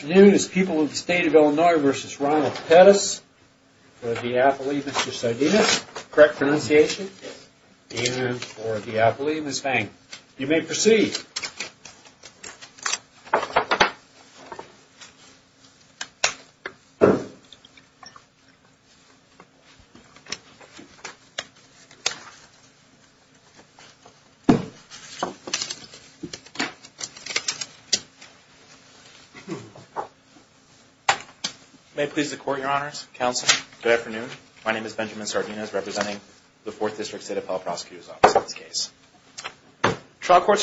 Good afternoon, people of the state of Illinois v. Ronald Pettis, for the Appellee, Mr. Sardinus, correct pronunciation, and for the Appellee, Ms. Fang. You may proceed. May it please the court, your honors, counsel, good afternoon. My name is Benjamin Sardinus, representing the 4th District State Appellee Prosecutor's Office in this case.